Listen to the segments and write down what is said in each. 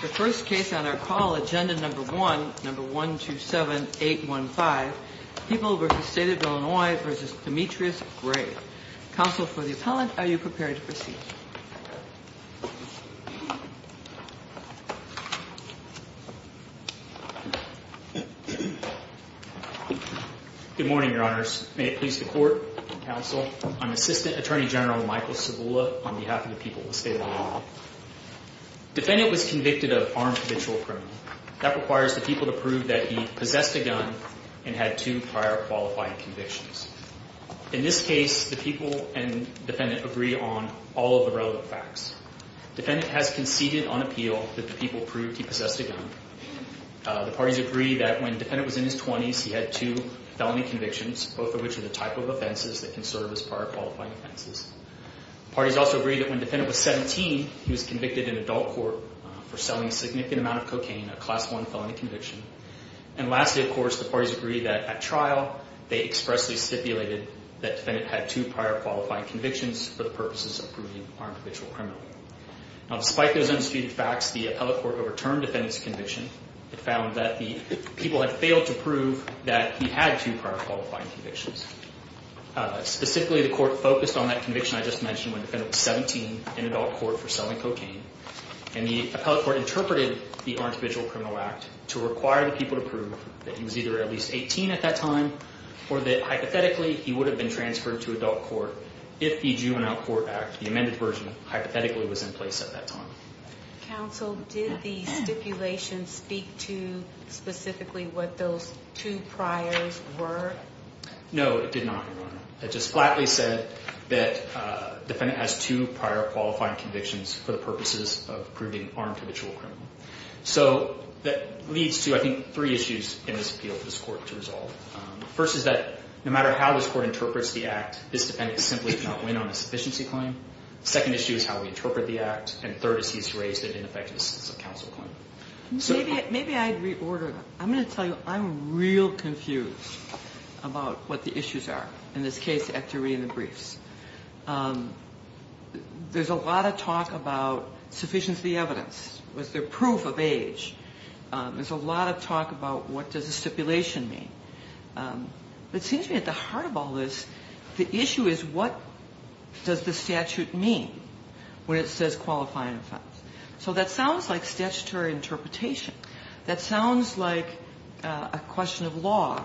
The first case on our call, agenda number one, number 127815, People v. State of Illinois v. Demetrius Gray. Counsel for the appellant, are you prepared to proceed? Good morning, Your Honors. May it please the Court and Counsel, I'm Assistant Attorney General Michael Cibula on behalf of the people of the State of Illinois. Defendant was convicted of armed habitual crime. That requires the people to prove that he possessed a gun and had two prior qualified convictions. In this case, the people and defendant agree on all of the relevant facts. Defendant has conceded on appeal that the people proved he possessed a gun. The parties agree that when defendant was in his 20s, he had two felony convictions, both of which are the type of offenses that can serve as prior qualifying offenses. The parties also agree that when defendant was 17, he was convicted in adult court for selling a significant amount of cocaine, a class one felony conviction. And lastly, of course, the parties agree that at trial, they expressly stipulated that defendant had two prior qualifying convictions for the purposes of proving armed habitual criminal. Now, despite those unspecified facts, the appellate court overturned defendant's conviction. It found that the people had failed to prove that he had two prior qualifying convictions. Specifically, the court focused on that conviction I just mentioned when defendant was 17 in adult court for selling cocaine. And the appellate court interpreted the Armed Habitual Criminal Act to require the people to prove that he was either at least 18 at that time, or that hypothetically he would have been transferred to adult court if the Jew and Outcourt Act, the amended version, hypothetically was in place at that time. Counsel, did the stipulation speak to specifically what those two priors were? No, it did not, Your Honor. It just flatly said that defendant has two prior qualifying convictions for the purposes of proving armed habitual criminal. So that leads to, I think, three issues in this appeal for this court to resolve. First is that no matter how this court interprets the act, this defendant simply cannot win on a sufficiency claim. Second issue is how we interpret the act. And third is he's raised it in effect as a counsel claim. Maybe I'd reorder. I'm going to tell you I'm real confused about what the issues are in this case after reading the briefs. There's a lot of talk about sufficiency evidence. Was there proof of age? There's a lot of talk about what does the stipulation mean? It seems to me at the heart of all this, the issue is what does the statute mean when it says qualifying offense. So that sounds like statutory interpretation. That sounds like a question of law.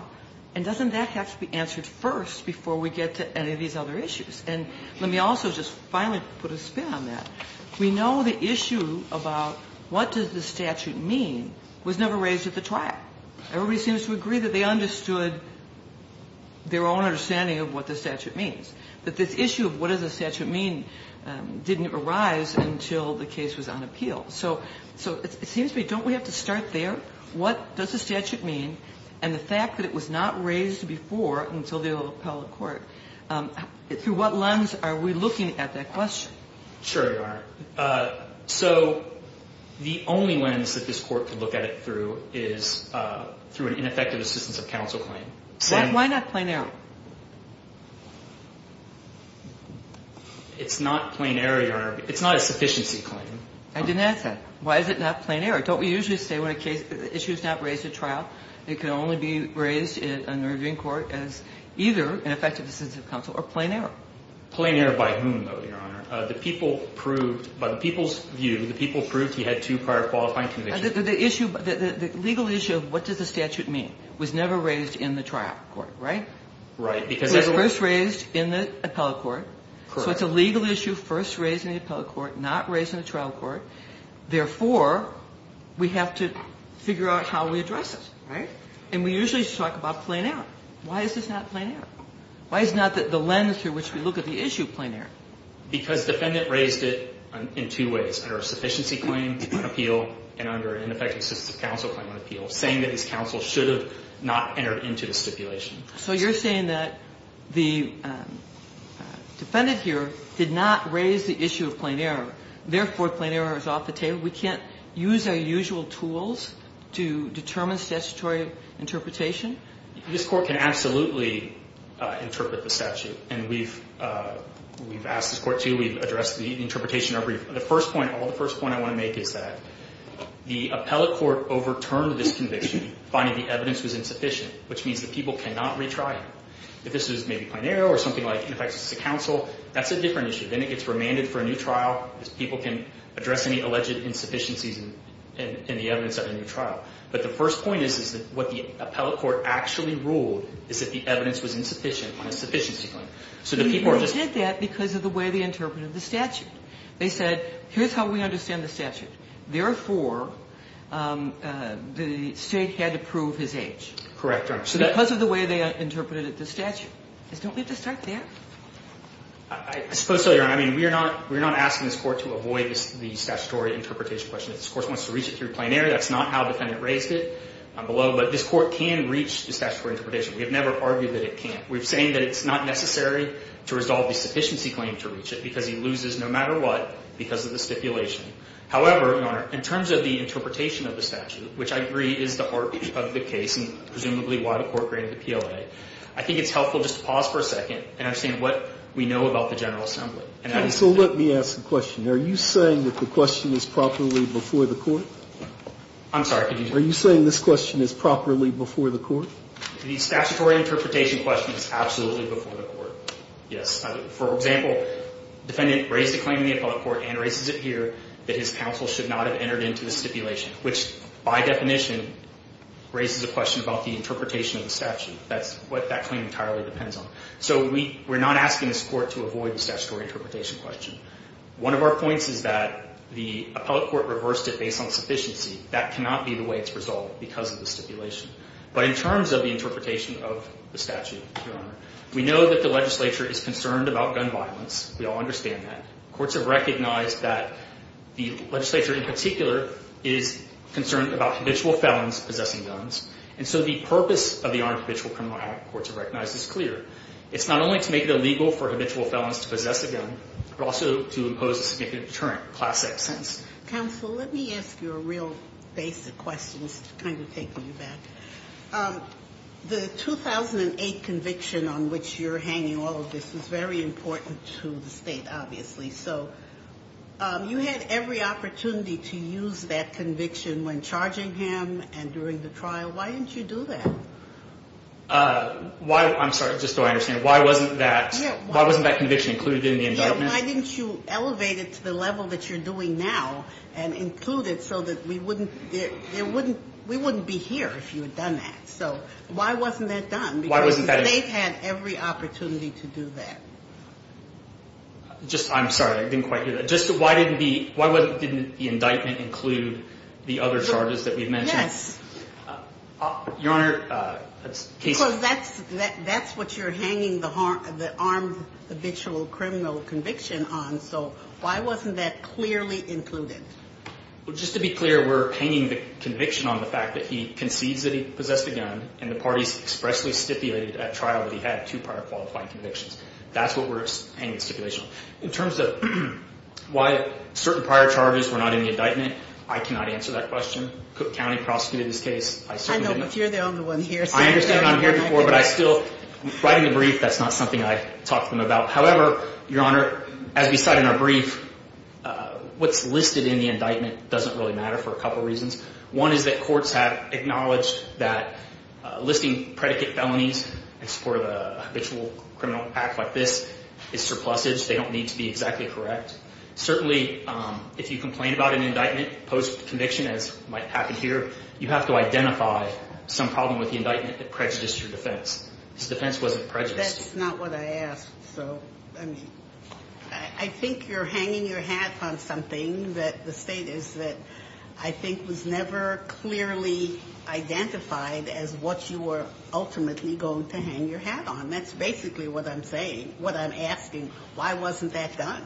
And doesn't that have to be answered first before we get to any of these other issues? And let me also just finally put a spin on that. We know the issue about what does the statute mean was never raised at the trial. Everybody seems to agree that they understood their own understanding of what the statute means. But this issue of what does the statute mean didn't arise until the case was on appeal. So it seems to me, don't we have to start there? What does the statute mean? And the fact that it was not raised before until the appellate court, through what lens are we looking at that question? Sure, Your Honor. So the only lens that this court could look at it through is through an ineffective assistance of counsel claim. Why not plain error? It's not plain error, Your Honor. It's not a sufficiency claim. I didn't ask that. Why is it not plain error? Don't we usually say when an issue is not raised at trial, it can only be raised in a reviewing court as either ineffective assistance of counsel or plain error? Plain error by whom, though, Your Honor? By the people's view, the people proved he had two prior qualifying convictions. The legal issue of what does the statute mean was never raised in the trial court, right? Right. It was first raised in the appellate court. Correct. So it's a legal issue first raised in the appellate court, not raised in the trial court. Therefore, we have to figure out how we address it, right? And we usually just talk about plain error. Why is this not plain error? Why is not the lens through which we look at the issue plain error? Because defendant raised it in two ways, under a sufficiency claim on appeal and under an ineffective assistance of counsel claim on appeal, saying that his counsel should have not entered into the stipulation. So you're saying that the defendant here did not raise the issue of plain error. Therefore, plain error is off the table. We can't use our usual tools to determine statutory interpretation? This court can absolutely interpret the statute, and we've asked this court to. We've addressed the interpretation. The first point, the first point I want to make is that the appellate court overturned this conviction, finding the evidence was insufficient, which means that people cannot retry it. If this was maybe plain error or something like ineffective assistance of counsel, that's a different issue. Then it gets remanded for a new trial because people can address any alleged insufficiencies in the evidence of a new trial. But the first point is that what the appellate court actually ruled is that the evidence was insufficient on a sufficiency claim. So the people are just. They did that because of the way they interpreted the statute. They said, here's how we understand the statute. Therefore, the state had to prove his age. Correct, Your Honor. Because of the way they interpreted the statute. Don't we have to start there? I suppose so, Your Honor. I mean, we're not asking this court to avoid the statutory interpretation question. This court wants to reach it through plain error. That's not how the defendant raised it below. But this court can reach the statutory interpretation. We have never argued that it can't. We're saying that it's not necessary to resolve the sufficiency claim to reach it because he loses no matter what because of the stipulation. However, Your Honor, in terms of the interpretation of the statute, which I agree is the heart of the case and presumably why the court granted the PLA, I think it's helpful just to pause for a second and understand what we know about the General Assembly. So let me ask a question. Are you saying that the question is properly before the court? I'm sorry. Are you saying this question is properly before the court? The statutory interpretation question is absolutely before the court. Yes. For example, the defendant raised a claim in the appellate court and raises it here that his counsel should not have entered into the stipulation, which by definition raises a question about the interpretation of the statute. That's what that claim entirely depends on. So we're not asking this court to avoid the statutory interpretation question. One of our points is that the appellate court reversed it based on sufficiency. That cannot be the way it's resolved because of the stipulation. But in terms of the interpretation of the statute, Your Honor, we know that the legislature is concerned about gun violence. We all understand that. Courts have recognized that the legislature in particular is concerned about habitual felons possessing guns. And so the purpose of the Armed Habitual Criminal Act, courts have recognized, is clear. It's not only to make it illegal for habitual felons to possess a gun, but also to impose a significant deterrent, a Class VI sentence. Counsel, let me ask you a real basic question. This is kind of taking you back. The 2008 conviction on which you're hanging all of this is very important to the state, obviously. So you had every opportunity to use that conviction when charging him and during the trial. Why didn't you do that? I'm sorry. Just so I understand. Why wasn't that conviction included in the indictment? Why didn't you elevate it to the level that you're doing now and include it so that we wouldn't be here if you had done that? So why wasn't that done? Because the state had every opportunity to do that. I'm sorry. I didn't quite hear that. Why didn't the indictment include the other charges that we've mentioned? Yes. Your Honor. Because that's what you're hanging the armed habitual criminal conviction on. So why wasn't that clearly included? Well, just to be clear, we're hanging the conviction on the fact that he concedes that he possessed a gun and the parties expressly stipulated at trial that he had two prior qualifying convictions. That's what we're hanging the stipulation on. In terms of why certain prior charges were not in the indictment, I cannot answer that question. Cook County prosecuted this case. I certainly didn't. I know, but you're the only one here. I understand I'm here before, but I still, right in the brief, that's not something I talked to them about. However, Your Honor, as we said in our brief, what's listed in the indictment doesn't really matter for a couple reasons. One is that courts have acknowledged that listing predicate felonies in support of a habitual criminal act like this is surplusage. They don't need to be exactly correct. Certainly, if you complain about an indictment post-conviction, as might happen here, you have to identify some problem with the indictment that prejudiced your defense. This defense wasn't prejudiced. That's not what I asked. So, I mean, I think you're hanging your hat on something that the state is that I think was never clearly identified as what you were ultimately going to hang your hat on. That's basically what I'm saying, what I'm asking. Why wasn't that done?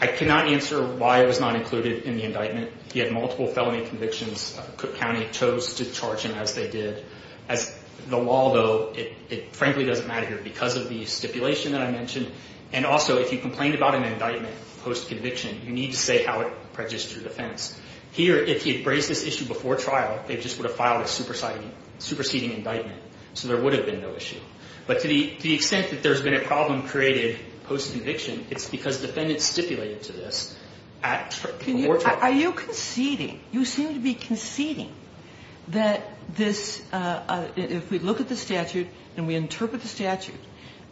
I cannot answer why it was not included in the indictment. He had multiple felony convictions. Cook County chose to charge him as they did. As the law, though, it frankly doesn't matter here because of the stipulation that I mentioned. And also, if you complained about an indictment post-conviction, you need to say how it prejudiced your defense. Here, if he had raised this issue before trial, they just would have filed a superseding indictment, so there would have been no issue. But to the extent that there's been a problem created post-conviction, it's because defendants stipulated to this at the court trial. Are you conceding? You seem to be conceding that this, if we look at the statute and we interpret the statute,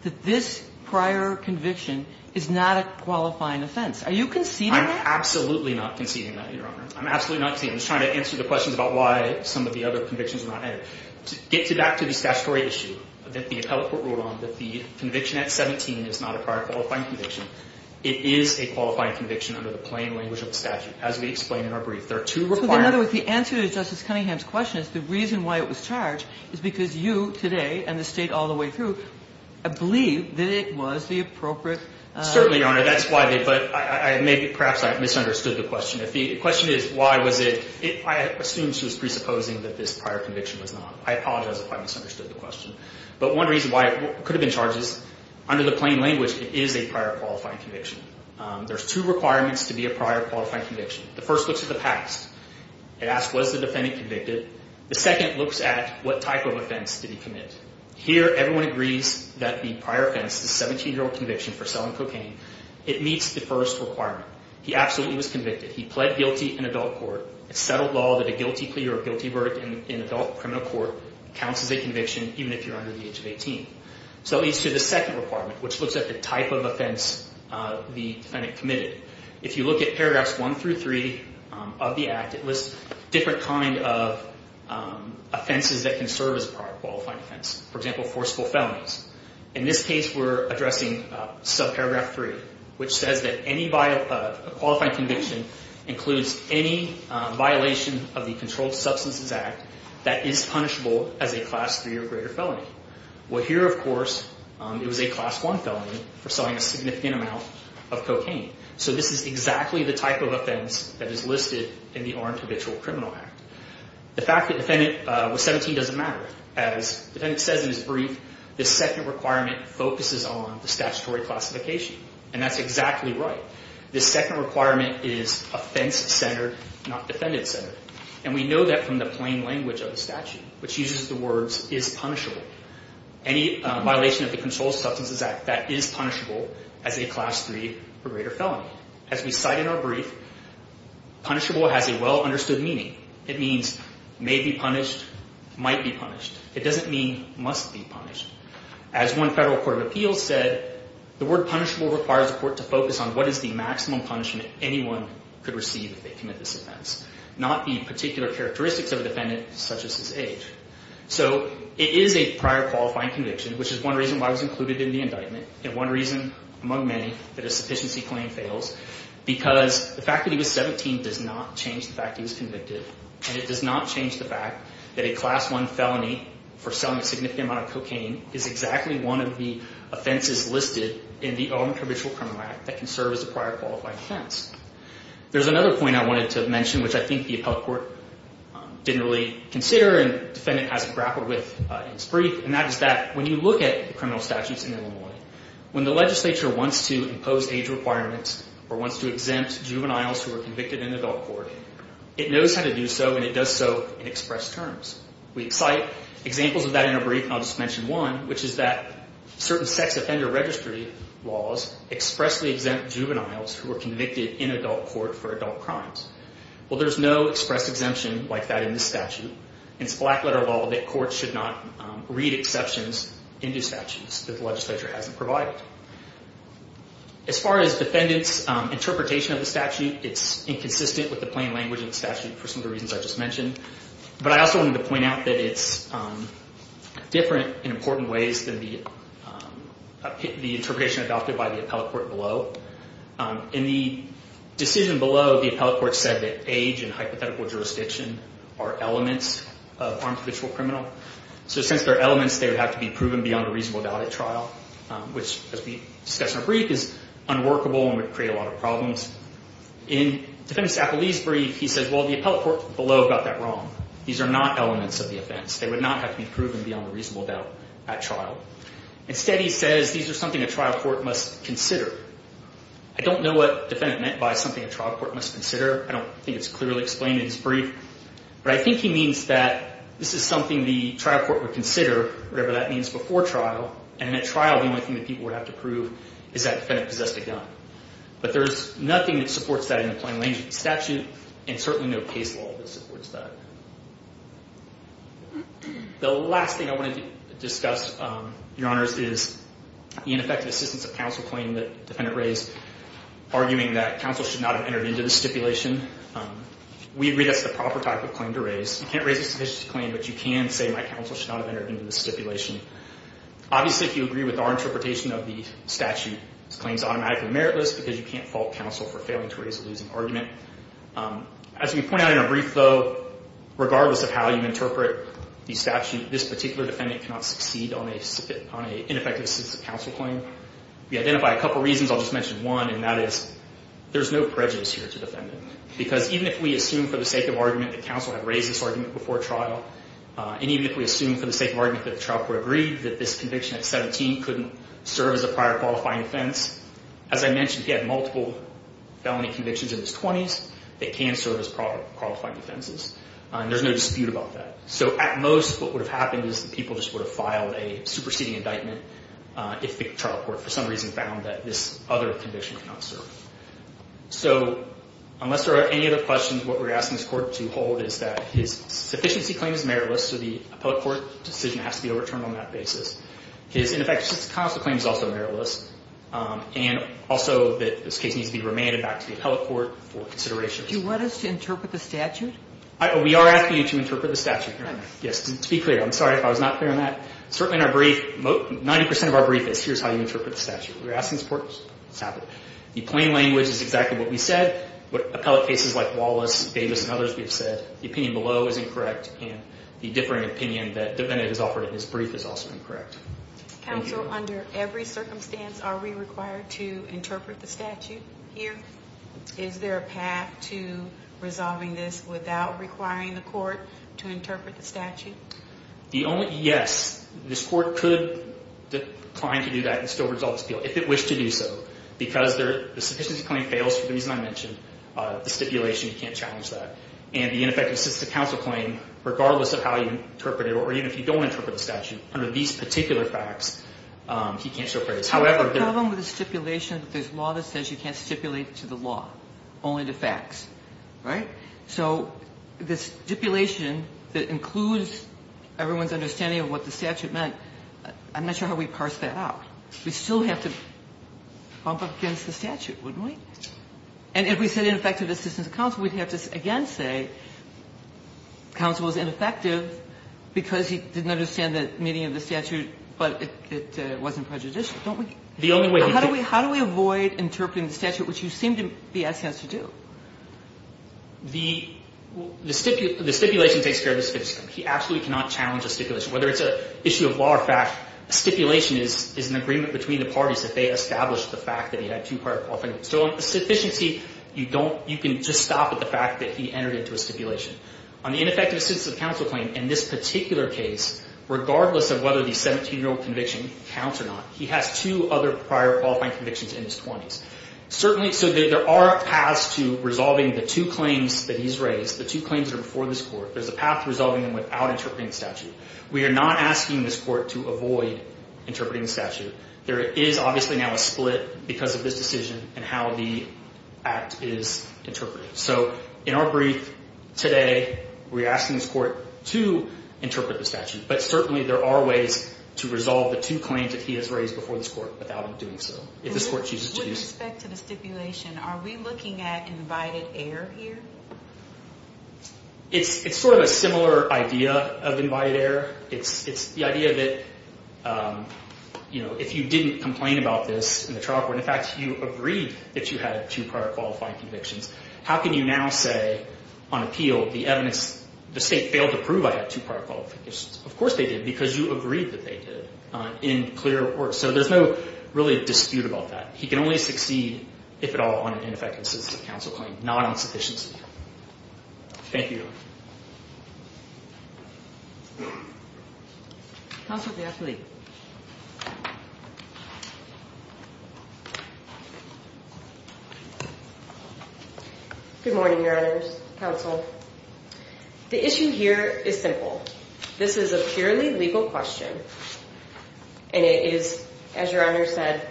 that this prior conviction is not a qualifying offense. Are you conceding that? I'm absolutely not conceding that, Your Honor. I'm absolutely not conceding. I'm just trying to answer the questions about why some of the other convictions are not added. To get back to the statutory issue that the appellate court ruled on, that the conviction at 17 is not a prior qualifying conviction, it is a qualifying conviction under the plain language of the statute, as we explained in our brief. There are two required. So in other words, the answer to Justice Cunningham's question is the reason why it was charged is because you today and the State all the way through believe that it was the appropriate. Certainly, Your Honor. That's why they put – perhaps I misunderstood the question. The question is why was it – I assume she was presupposing that this prior conviction was not. I apologize if I misunderstood the question. But one reason why it could have been charged is under the plain language it is a prior qualifying conviction. There's two requirements to be a prior qualifying conviction. The first looks at the past. It asks was the defendant convicted. The second looks at what type of offense did he commit. Here everyone agrees that the prior offense, the 17-year-old conviction for selling cocaine, it meets the first requirement. He absolutely was convicted. He pled guilty in adult court. It's settled law that a guilty plea or a guilty verdict in adult criminal court counts as a conviction, even if you're under the age of 18. So it leads to the second requirement, which looks at the type of offense the defendant committed. If you look at paragraphs 1 through 3 of the Act, it lists different kind of offenses that can serve as a prior qualifying offense. For example, forcible felonies. In this case, we're addressing subparagraph 3, which says that any qualifying conviction includes any violation of the Controlled Substances Act that is punishable as a Class 3 or greater felony. Well, here, of course, it was a Class 1 felony for selling a significant amount of cocaine. So this is exactly the type of offense that is listed in the Armed Habitual Criminal Act. The fact that the defendant was 17 doesn't matter. As the defendant says in his brief, this second requirement focuses on the statutory classification. And that's exactly right. This second requirement is offense-centered, not defendant-centered. And we know that from the plain language of the statute, which uses the words is punishable. Any violation of the Controlled Substances Act that is punishable as a Class 3 or greater felony. As we cite in our brief, punishable has a well-understood meaning. It means may be punished, might be punished. It doesn't mean must be punished. As one federal court of appeals said, the word punishable requires the court to focus on what is the maximum punishment anyone could receive if they commit this offense, not the particular characteristics of a defendant such as his age. So it is a prior qualifying conviction, which is one reason why it was included in the indictment and one reason, among many, that a sufficiency claim fails, because the fact that he was 17 does not change the fact that he was convicted. And it does not change the fact that a Class 1 felony for selling a significant amount of cocaine is exactly one of the offenses listed in the Elementary Judicial Criminal Act that can serve as a prior qualifying offense. There's another point I wanted to mention, which I think the appellate court didn't really consider and the defendant hasn't grappled with in his brief. When the legislature wants to impose age requirements or wants to exempt juveniles who are convicted in adult court, it knows how to do so and it does so in express terms. We cite examples of that in our brief. I'll just mention one, which is that certain sex offender registry laws expressly exempt juveniles who are convicted in adult court for adult crimes. Well, there's no express exemption like that in this statute. And it's black letter law that courts should not read exceptions into statutes that the legislature hasn't provided. As far as defendants' interpretation of the statute, it's inconsistent with the plain language of the statute for some of the reasons I just mentioned. But I also wanted to point out that it's different in important ways than the interpretation adopted by the appellate court below. In the decision below, the appellate court said that age and hypothetical jurisdiction are elements of armed habitual criminal. So since they're elements, they would have to be proven beyond a reasonable doubt at trial, which, as we discussed in our brief, is unworkable and would create a lot of problems. In the defendant's appellee's brief, he says, well, the appellate court below got that wrong. These are not elements of the offense. Instead, he says, these are something a trial court must consider. I don't know what defendant meant by something a trial court must consider. I don't think it's clearly explained in his brief. But I think he means that this is something the trial court would consider, whatever that means, before trial. And at trial, the only thing that people would have to prove is that defendant possessed a gun. But there's nothing that supports that in the plain language of the statute, and certainly no case law that supports that. The last thing I want to discuss, Your Honors, is the ineffective assistance of counsel claim that the defendant raised, arguing that counsel should not have entered into the stipulation. We agree that's the proper type of claim to raise. You can't raise a sufficient claim, but you can say my counsel should not have entered into the stipulation. Obviously, if you agree with our interpretation of the statute, this claim is automatically meritless because you can't fault counsel for failing to raise a losing argument. As we point out in our brief, though, regardless of how you interpret the statute, this particular defendant cannot succeed on an ineffective assistance of counsel claim. We identify a couple of reasons. I'll just mention one, and that is there's no prejudice here to the defendant. Because even if we assume for the sake of argument that counsel had raised this argument before trial, and even if we assume for the sake of argument that the trial court agreed that this conviction at 17 couldn't serve as a prior qualifying offense, as I mentioned, he had multiple felony convictions in his 20s that can serve as prior qualifying offenses. And there's no dispute about that. So at most, what would have happened is the people just would have filed a superseding indictment if the trial court for some reason found that this other conviction cannot serve. So unless there are any other questions, what we're asking this court to hold is that his sufficiency claim is meritless, so the appellate court decision has to be overturned on that basis. His ineffective assistance of counsel claim is also meritless. And also that this case needs to be remanded back to the appellate court for consideration. Do you want us to interpret the statute? We are asking you to interpret the statute, Your Honor. Yes. To be clear, I'm sorry if I was not clear on that. Certainly in our brief, 90% of our brief is here's how you interpret the statute. We're asking this court what's happened. The plain language is exactly what we said. What appellate cases like Wallace, Davis, and others have said, the opinion below is incorrect, and the differing opinion that the defendant has offered in his brief is also incorrect. Counsel, under every circumstance, are we required to interpret the statute here? Is there a path to resolving this without requiring the court to interpret the statute? Yes. This court could decline to do that and still resolve this appeal, if it wished to do so, because the sufficiency claim fails for the reason I mentioned, the stipulation. You can't challenge that. And the ineffective assistance of counsel claim, regardless of how you interpret it, or even if you don't interpret the statute, under these particular facts, he can't show praise. However, there's a problem with the stipulation that there's law that says you can't stipulate to the law, only to facts. Right? So the stipulation that includes everyone's understanding of what the statute meant, I'm not sure how we parse that out. We still have to bump up against the statute, wouldn't we? And if we said ineffective assistance of counsel, we'd have to again say counsel was ineffective because he didn't understand the meaning of the statute, but it wasn't prejudicial, don't we? The only way he could. How do we avoid interpreting the statute, which you seem to be asking us to do? The stipulation takes care of the sufficiency claim. He absolutely cannot challenge the stipulation. Whether it's an issue of law or fact, a stipulation is an agreement between the parties if they establish the fact that he had two prior qualifying convictions. So on sufficiency, you can just stop at the fact that he entered into a stipulation. On the ineffective assistance of counsel claim, in this particular case, regardless of whether the 17-year-old conviction counts or not, he has two other prior qualifying convictions in his 20s. So there are paths to resolving the two claims that he's raised. The two claims are before this Court. There's a path to resolving them without interpreting the statute. We are not asking this Court to avoid interpreting the statute. There is obviously now a split because of this decision and how the act is interpreted. So in our brief today, we're asking this Court to interpret the statute. But certainly there are ways to resolve the two claims that he has raised before this Court without him doing so, if this Court chooses to do so. With respect to the stipulation, are we looking at invited error here? It's sort of a similar idea of invited error. It's the idea that, you know, if you didn't complain about this in the trial court, in fact, you agreed that you had two prior qualifying convictions, how can you now say on appeal the evidence, the state failed to prove I had two prior qualifying convictions? Of course they did because you agreed that they did in clear report. So there's no really dispute about that. He can only succeed, if at all, on an ineffective assistance of counsel claim, not on sufficiency. Thank you. Counsel, please. Good morning, Your Honors. Counsel. The issue here is simple. This is a purely legal question, and it is, as Your Honor said,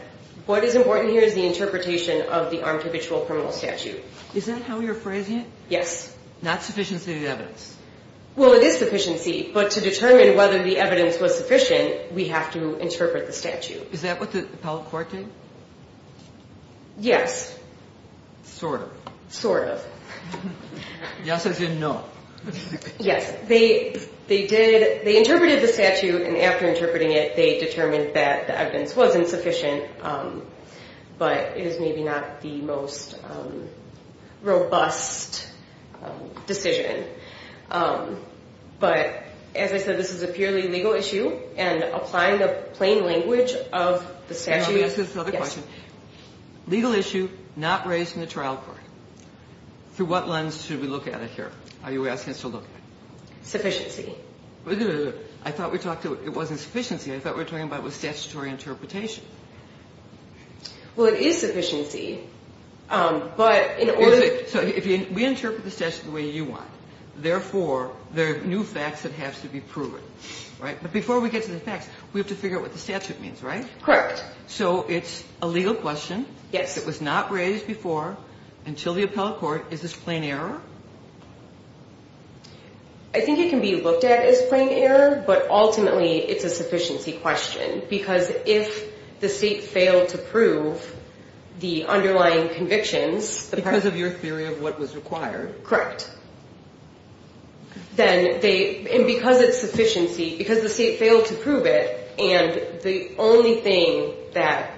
what is important here is the interpretation of the armed habitual criminal statute. Is that how you're phrasing it? Yes. Not sufficiency of the evidence. Well, it is sufficiency, but to determine whether the evidence was sufficient, we have to interpret the statute. Is that what the appellate court did? Yes. Sort of. Sort of. Yes as in no. Yes. They did, they interpreted the statute, and after interpreting it, they determined that the evidence wasn't sufficient, but it is maybe not the most robust decision. But as I said, this is a purely legal issue, and applying the plain language of the statute. Let me ask you this other question. Yes. Legal issue not raised in the trial court. Through what lens should we look at it here? Are you asking us to look at it? Sufficiency. I thought we talked about it wasn't sufficiency. I thought we were talking about it was statutory interpretation. Well, it is sufficiency, but in order to. So we interpret the statute the way you want. Therefore, there are new facts that have to be proven, right? But before we get to the facts, we have to figure out what the statute means, right? Correct. So it's a legal question. Yes. It was not raised before until the appellate court. Is this plain error? I think it can be looked at as plain error, but ultimately, it's a sufficiency question. Because if the state failed to prove the underlying convictions. Because of your theory of what was required. Correct. And because it's sufficiency, because the state failed to prove it, and the only thing that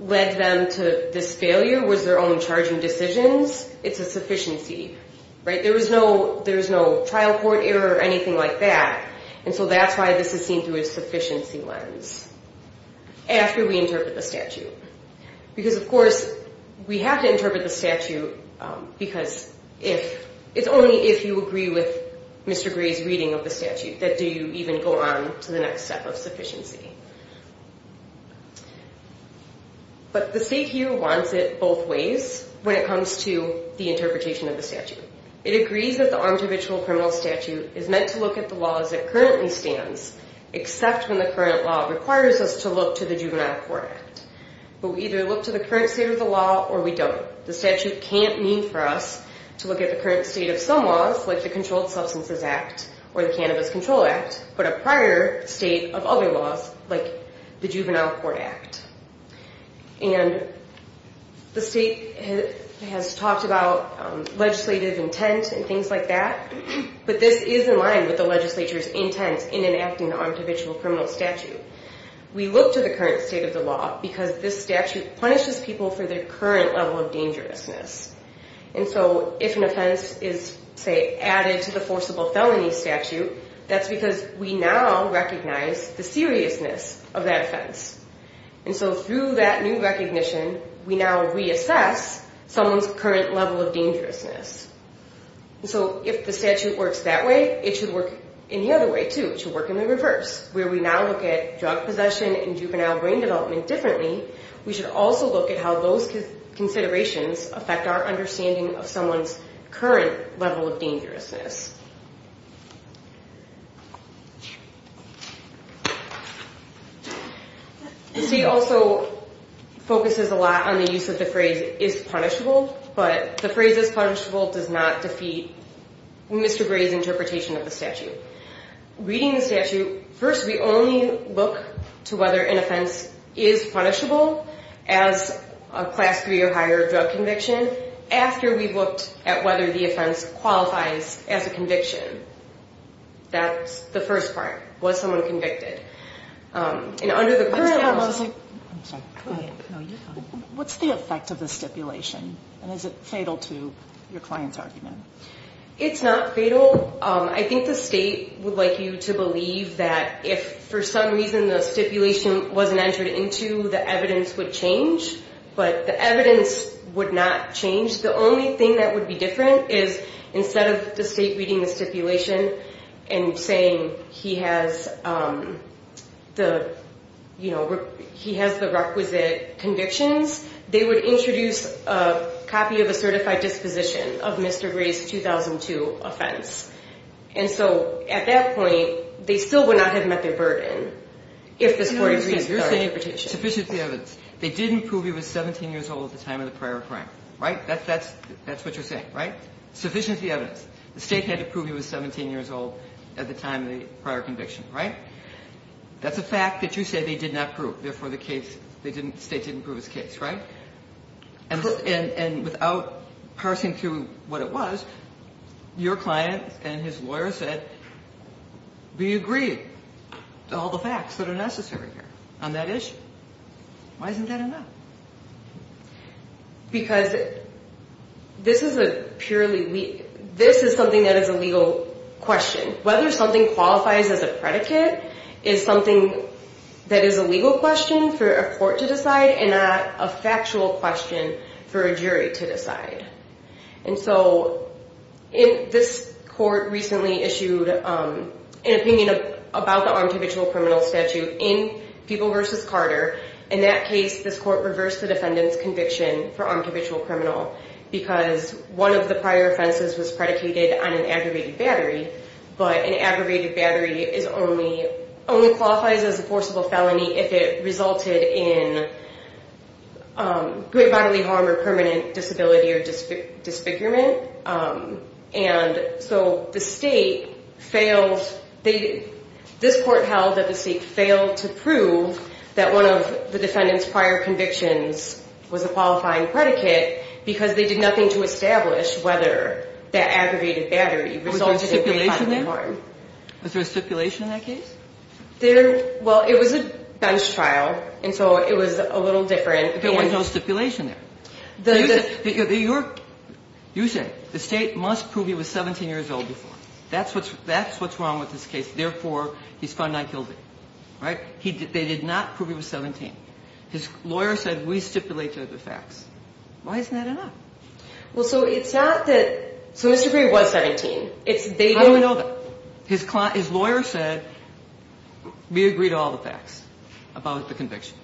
led them to this failure was their own charging decisions, it's a sufficiency, right? There was no trial court error or anything like that. And so that's why this is seen through a sufficiency lens after we interpret the statute. Because, of course, we have to interpret the statute because it's only if you agree with Mr. Gray's reading of the statute that you even go on to the next step of sufficiency. But the state here wants it both ways when it comes to the interpretation of the statute. It agrees that the armed habitual criminal statute is meant to look at the law as it currently stands, except when the current law requires us to look to the Juvenile Court Act. But we either look to the current state of the law or we don't. The statute can't mean for us to look at the current state of some laws, like the Controlled Substances Act or the Cannabis Control Act, but a prior state of other laws like the Juvenile Court Act. And the state has talked about legislative intent and things like that, but this is in line with the legislature's intent in enacting the armed habitual criminal statute. We look to the current state of the law because this statute punishes people for their current level of dangerousness. And so if an offense is, say, added to the forcible felony statute, that's because we now recognize the seriousness of that offense. And so through that new recognition, we now reassess someone's current level of dangerousness. And so if the statute works that way, it should work any other way, too. It should work in the reverse, where we now look at drug possession and juvenile brain development differently. We should also look at how those considerations affect our understanding of someone's current level of dangerousness. The state also focuses a lot on the use of the phrase is punishable, but the phrase is punishable does not defeat Mr. Gray's interpretation of the statute. Reading the statute, first we only look to whether an offense is punishable as a class 3 or higher drug conviction after we've looked at whether the offense qualifies as a conviction. That's the first part, was someone convicted. And under the current law... I'm sorry, go ahead. What's the effect of the stipulation, and is it fatal to your client's argument? It's not fatal. I think the state would like you to believe that if for some reason the stipulation wasn't entered into, the evidence would change, but the evidence would not change. The only thing that would be different is instead of the state reading the stipulation and saying he has the requisite convictions, they would introduce a copy of a certified disposition of Mr. Gray's 2002 offense. And so at that point, they still would not have met their burden if the court agrees to that interpretation. Sufficiently evidence. They didn't prove he was 17 years old at the time of the prior crime. Right? That's what you're saying, right? Sufficiently evidence. The state had to prove he was 17 years old at the time of the prior conviction, right? That's a fact that you say they did not prove. Therefore, the state didn't prove his case, right? And without parsing through what it was, your client and his lawyer said, we agree to all the facts that are necessary here on that issue. Why isn't that enough? Because this is something that is a legal question. Whether something qualifies as a predicate is something that is a legal question for a court to decide and not a factual question for a jury to decide. And so this court recently issued an opinion about the armed habitual criminal statute in Feeble v. Carter. In that case, this court reversed the defendant's conviction for armed habitual criminal because one of the prior offenses was predicated on an aggravated battery, but an aggravated battery only qualifies as a forcible felony if it resulted in great bodily harm or permanent disability or disfigurement. And so the state failed. This court held that the state failed to prove that one of the defendant's prior convictions was a qualifying predicate because they did nothing to establish whether that aggravated battery resulted in great bodily harm. Was there a stipulation there? Was there a stipulation in that case? Well, it was a bench trial, and so it was a little different. There was no stipulation there. You said the state must prove he was 17 years old before. That's what's wrong with this case. Therefore, he's found not guilty, right? They did not prove he was 17. His lawyer said we stipulated the facts. Why isn't that enough? Well, so it's not that Mr. Gray was 17. I don't know that. His lawyer said we agreed to all the facts about the conviction.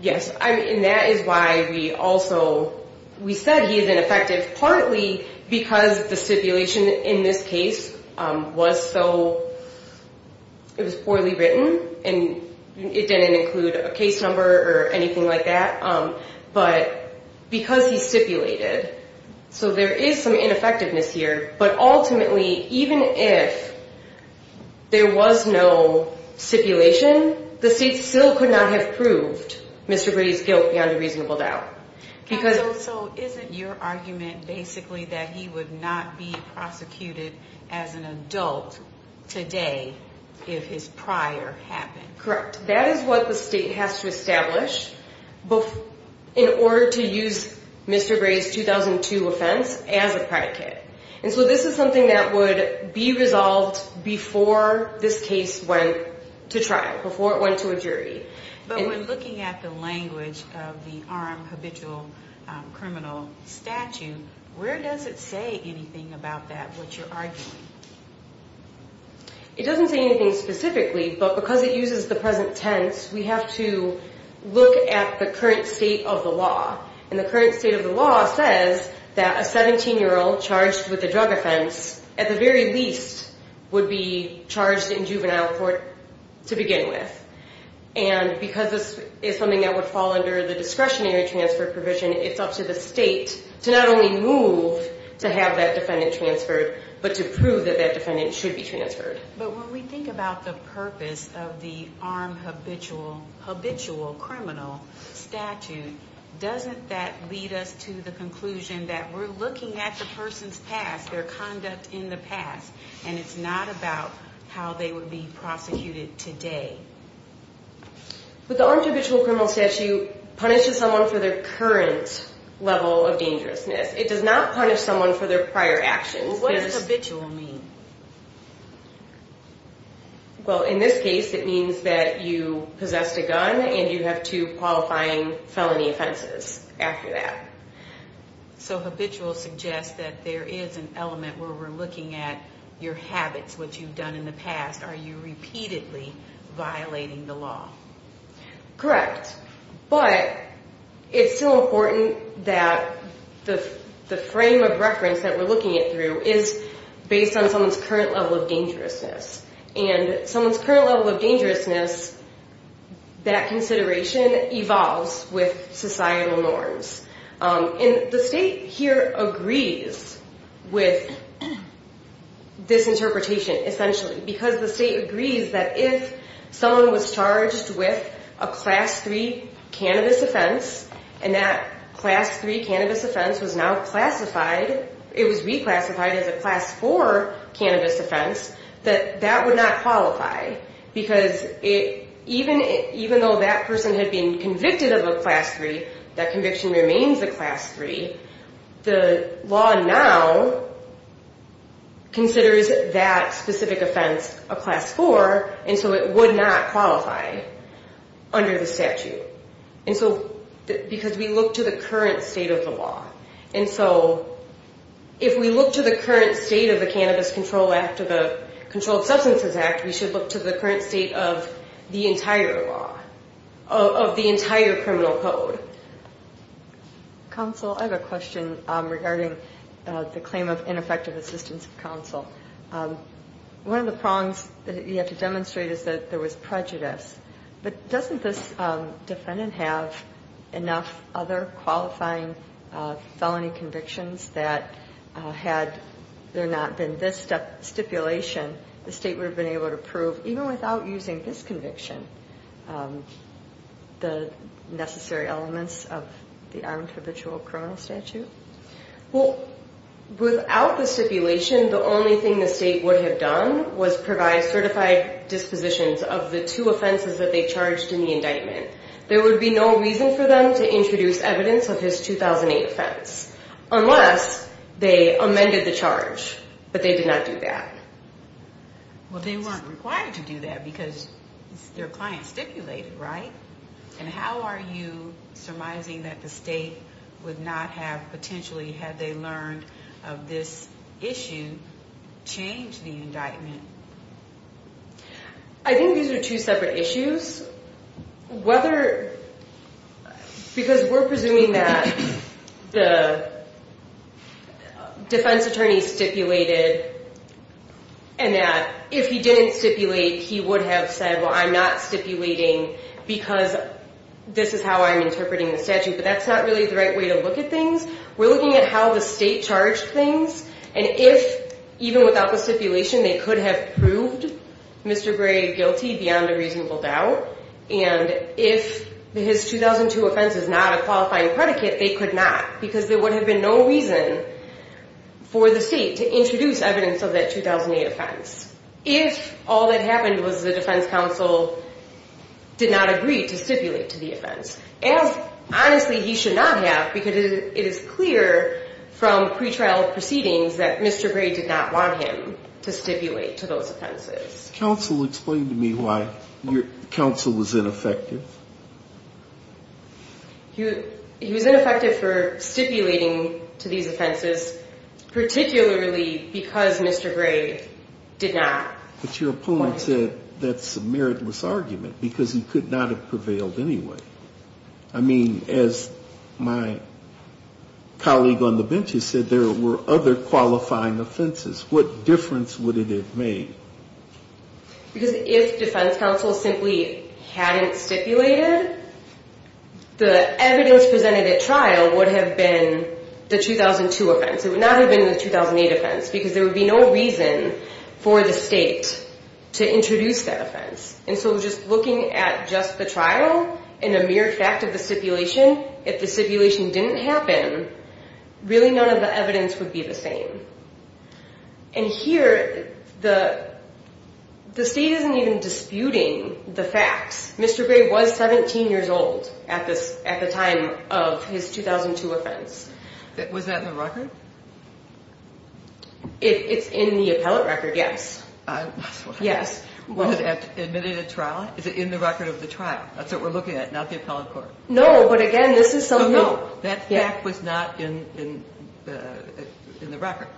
Yes, and that is why we also said he is ineffective partly because the stipulation in this case was so poorly written and it didn't include a case number or anything like that, but because he stipulated. So there is some ineffectiveness here, but ultimately, even if there was no stipulation, the state still could not have proved Mr. Gray's guilt beyond a reasonable doubt. So isn't your argument basically that he would not be prosecuted as an adult today if his prior happened? Correct. That is what the state has to establish in order to use Mr. Gray's 2002 offense as a predicate, and so this is something that would be resolved before this case went to trial, before it went to a jury. But when looking at the language of the armed habitual criminal statute, where does it say anything about that, what you're arguing? It doesn't say anything specifically, but because it uses the present tense, we have to look at the current state of the law, and the current state of the law says that a 17-year-old charged with a drug offense, at the very least, would be charged in juvenile court to begin with. And because this is something that would fall under the discretionary transfer provision, it's up to the state to not only move to have that defendant transferred, but to prove that that defendant should be transferred. But when we think about the purpose of the armed habitual criminal statute, doesn't that lead us to the conclusion that we're looking at the person's past, their conduct in the past, and it's not about how they would be prosecuted today? But the armed habitual criminal statute punishes someone for their current level of dangerousness. It does not punish someone for their prior actions. Well, what does habitual mean? Well, in this case, it means that you possessed a gun and you have two qualifying felony offenses after that. So habitual suggests that there is an element where we're looking at your habits, what you've done in the past. Are you repeatedly violating the law? Correct. But it's still important that the frame of reference that we're looking at through is based on someone's current level of dangerousness. And someone's current level of dangerousness, that consideration evolves with societal norms. And the state here agrees with this interpretation, essentially, because the state agrees that if someone was charged with a Class 3 cannabis offense and that Class 3 cannabis offense was now classified, it was reclassified as a Class 4 cannabis offense, that that would not qualify because even though that person had been convicted of a Class 3, that conviction remains a Class 3, the law now considers that specific offense a Class 4, and so it would not qualify under the statute because we look to the current state of the law. And so if we look to the current state of the Cannabis Control Act or the Controlled Substances Act, we should look to the current state of the entire law, of the entire criminal code. Counsel, I have a question regarding the claim of ineffective assistance of counsel. One of the prongs that you have to demonstrate is that there was prejudice, but doesn't this defendant have enough other qualifying felony convictions that had there not been this stipulation, the state would have been able to prove, even without using this conviction, the necessary elements of the armed habitual criminal statute? Well, without the stipulation, the only thing the state would have done was provide certified dispositions of the two offenses that they charged in the indictment. There would be no reason for them to introduce evidence of his 2008 offense, unless they amended the charge, but they did not do that. Well, they weren't required to do that because their client stipulated, right? And how are you surmising that the state would not have potentially, had they learned of this issue, changed the indictment? I think these are two separate issues. Because we're presuming that the defense attorney stipulated and that if he didn't stipulate, he would have said, well, I'm not stipulating because this is how I'm interpreting the statute, but that's not really the right way to look at things. We're looking at how the state charged things, and if, even without the stipulation, they could have proved Mr. Gray guilty beyond a reasonable doubt, and if his 2002 offense is not a qualifying predicate, they could not, because there would have been no reason for the state to introduce evidence of that 2008 offense if all that happened was the defense counsel did not agree to stipulate to the offense, as honestly he should not have because it is clear from pretrial proceedings that Mr. Gray did not want him to stipulate to those offenses. Counsel, explain to me why counsel was ineffective. He was ineffective for stipulating to these offenses, particularly because Mr. Gray did not. But your opponent said that's a meritless argument because he could not have prevailed anyway. I mean, as my colleague on the bench has said, there were other qualifying offenses. What difference would it have made? Because if defense counsel simply hadn't stipulated, the evidence presented at trial would have been the 2002 offense. It would not have been the 2008 offense because there would be no reason for the state to introduce that offense. And so just looking at just the trial and a mere fact of the stipulation, if the stipulation didn't happen, really none of the evidence would be the same. And here, the state isn't even disputing the facts. Mr. Gray was 17 years old at the time of his 2002 offense. Was that in the record? It's in the appellate record, yes. Yes. Was it admitted at trial? Is it in the record of the trial? That's what we're looking at, not the appellate court. No, but again, this is something. No, that fact was not in the record.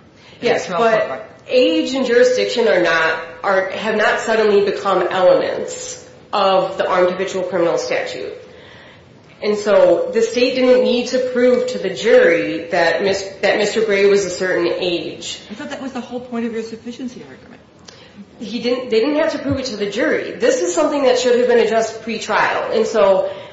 Yes, but age and jurisdiction have not suddenly become elements of the armed habitual criminal statute. And so the state didn't need to prove to the jury that Mr. Gray was a certain age. I thought that was the whole point of your sufficiency argument. They didn't have to prove it to the jury. This is something that should have been addressed pretrial. It's a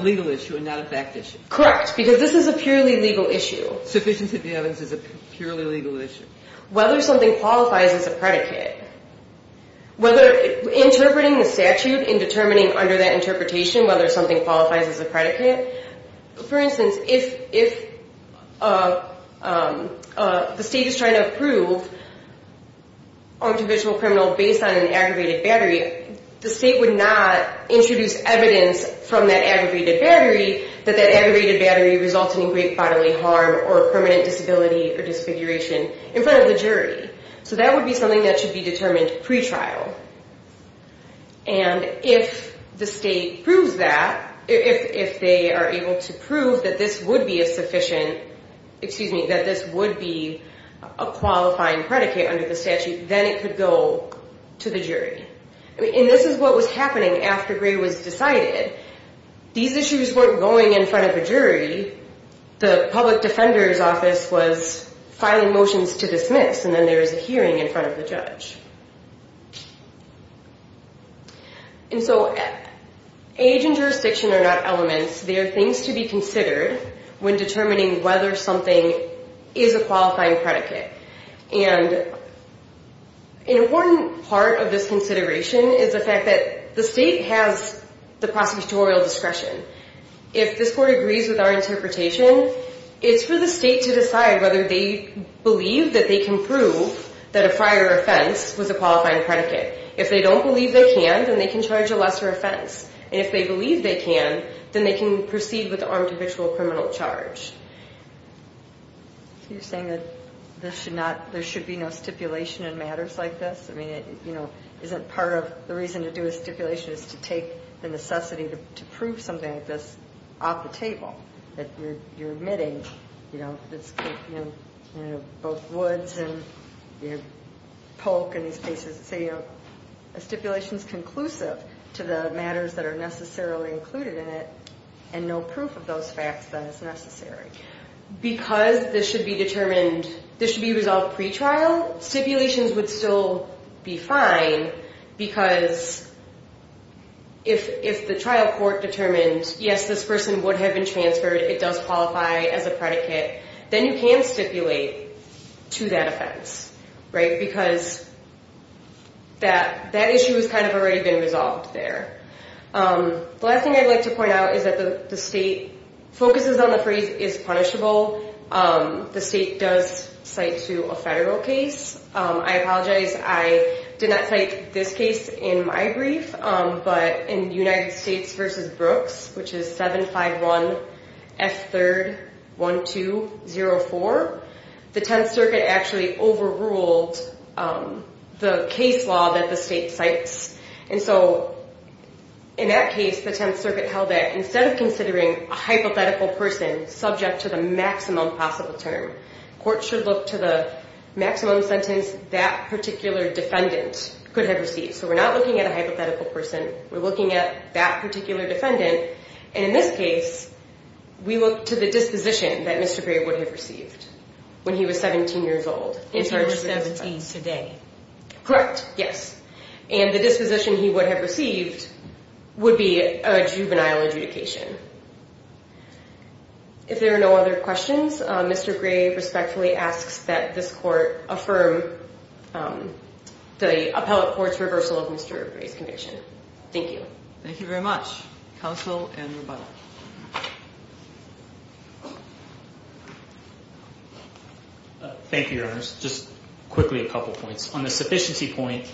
legal issue and not a fact issue. Correct, because this is a purely legal issue. Sufficiency of the evidence is a purely legal issue. Whether something qualifies as a predicate, whether interpreting the statute and determining under that interpretation whether something qualifies as a predicate. For instance, if the state is trying to approve armed habitual criminal based on an aggravated battery, the state would not introduce evidence from that aggravated battery that that aggravated battery resulted in great bodily harm or permanent disability or disfiguration in front of the jury. So that would be something that should be determined pretrial. And if the state proves that, if they are able to prove that this would be a sufficient, excuse me, that this would be a qualifying predicate under the statute, then it could go to the jury. And this is what was happening after Gray was decided. These issues weren't going in front of a jury. The public defender's office was filing motions to dismiss and then there was a hearing in front of the judge. And so age and jurisdiction are not elements. They are things to be considered when determining whether something is a qualifying predicate. And an important part of this consideration is the fact that the state has the prosecutorial discretion. If this court agrees with our interpretation, it's for the state to decide whether they believe that they can prove that a prior offense was a qualifying predicate. If they don't believe they can, then they can charge a lesser offense. And if they believe they can, then they can proceed with the armed habitual criminal charge. So you're saying that there should be no stipulation in matters like this? I mean, you know, isn't part of the reason to do a stipulation is to take the necessity to prove something like this off the table? That you're admitting, you know, both Woods and Polk and these cases. So, you know, a stipulation is conclusive to the matters that are necessarily included in it and no proof of those facts that is necessary. Because this should be determined, this should be resolved pretrial, stipulations would still be fine. Because if the trial court determined, yes, this person would have been transferred. It does qualify as a predicate. Then you can stipulate to that offense, right? Because that issue is kind of already been resolved there. The last thing I'd like to point out is that the state focuses on the phrase is punishable. The state does cite to a federal case. I apologize, I did not cite this case in my brief. But in United States v. Brooks, which is 751 F3-1204, the Tenth Circuit actually overruled the case law that the state cites. And so in that case, the Tenth Circuit held that instead of considering a hypothetical person subject to the maximum possible term, court should look to the maximum sentence that particular defendant could have received. So we're not looking at a hypothetical person. We're looking at that particular defendant. And in this case, we look to the disposition that Mr. Gray would have received when he was 17 years old. If he were 17 today. Correct, yes. And the disposition he would have received would be a juvenile adjudication. If there are no other questions, Mr. Gray respectfully asks that this court affirm the appellate court's reversal of Mr. Gray's conviction. Thank you. Thank you very much. Counsel and rebuttal. Thank you, Your Honors. Just quickly a couple points. On the sufficiency point,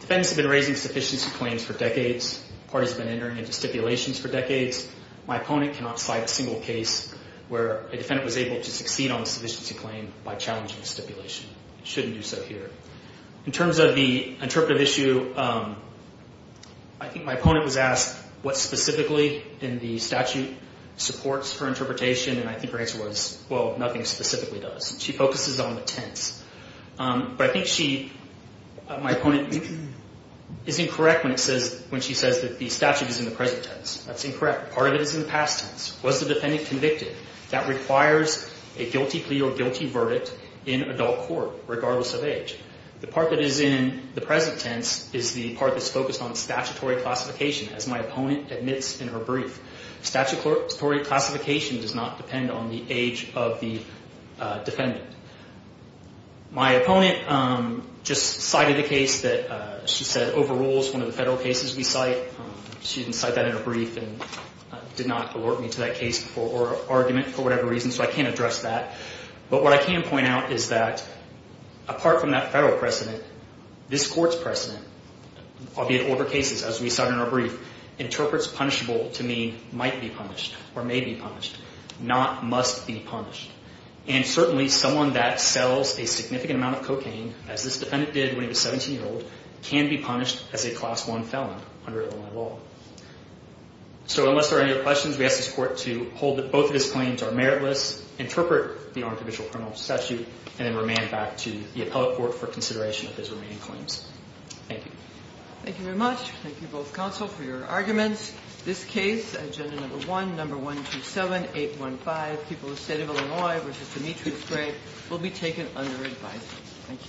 defendants have been raising sufficiency claims for decades. Parties have been entering into stipulations for decades. My opponent cannot cite a single case where a defendant was able to succeed on a sufficiency claim by challenging a stipulation. It shouldn't do so here. In terms of the interpretive issue, I think my opponent was asked what specifically in the statute supports her interpretation. And I think her answer was, well, nothing specifically does. She focuses on the Tenths. But I think she, my opponent, is incorrect when she says that the statute is in the present tense. That's incorrect. Part of it is in the past tense. Was the defendant convicted? That requires a guilty plea or guilty verdict in adult court, regardless of age. The part that is in the present tense is the part that's focused on statutory classification, as my opponent admits in her brief. My opponent just cited a case that she said overrules one of the federal cases we cite. She didn't cite that in her brief and did not alert me to that case or argument for whatever reason. So I can't address that. But what I can point out is that, apart from that federal precedent, this Court's precedent, albeit over cases, as we cite in our brief, interprets punishable to mean might be punished or may be punished, not must be punished. And certainly, someone that sells a significant amount of cocaine, as this defendant did when he was 17 years old, can be punished as a Class I felon under Illinois law. So unless there are any other questions, we ask this Court to hold that both of his claims are meritless, interpret the artificial criminal statute, and then remand back to the appellate court for consideration of his remaining claims. Thank you. Thank you very much. Thank you, both counsel, for your arguments. This case, Agenda Number 1, Number 127815, People of the State of Illinois v. Demetrius Gray, will be taken under advisory. Thank you.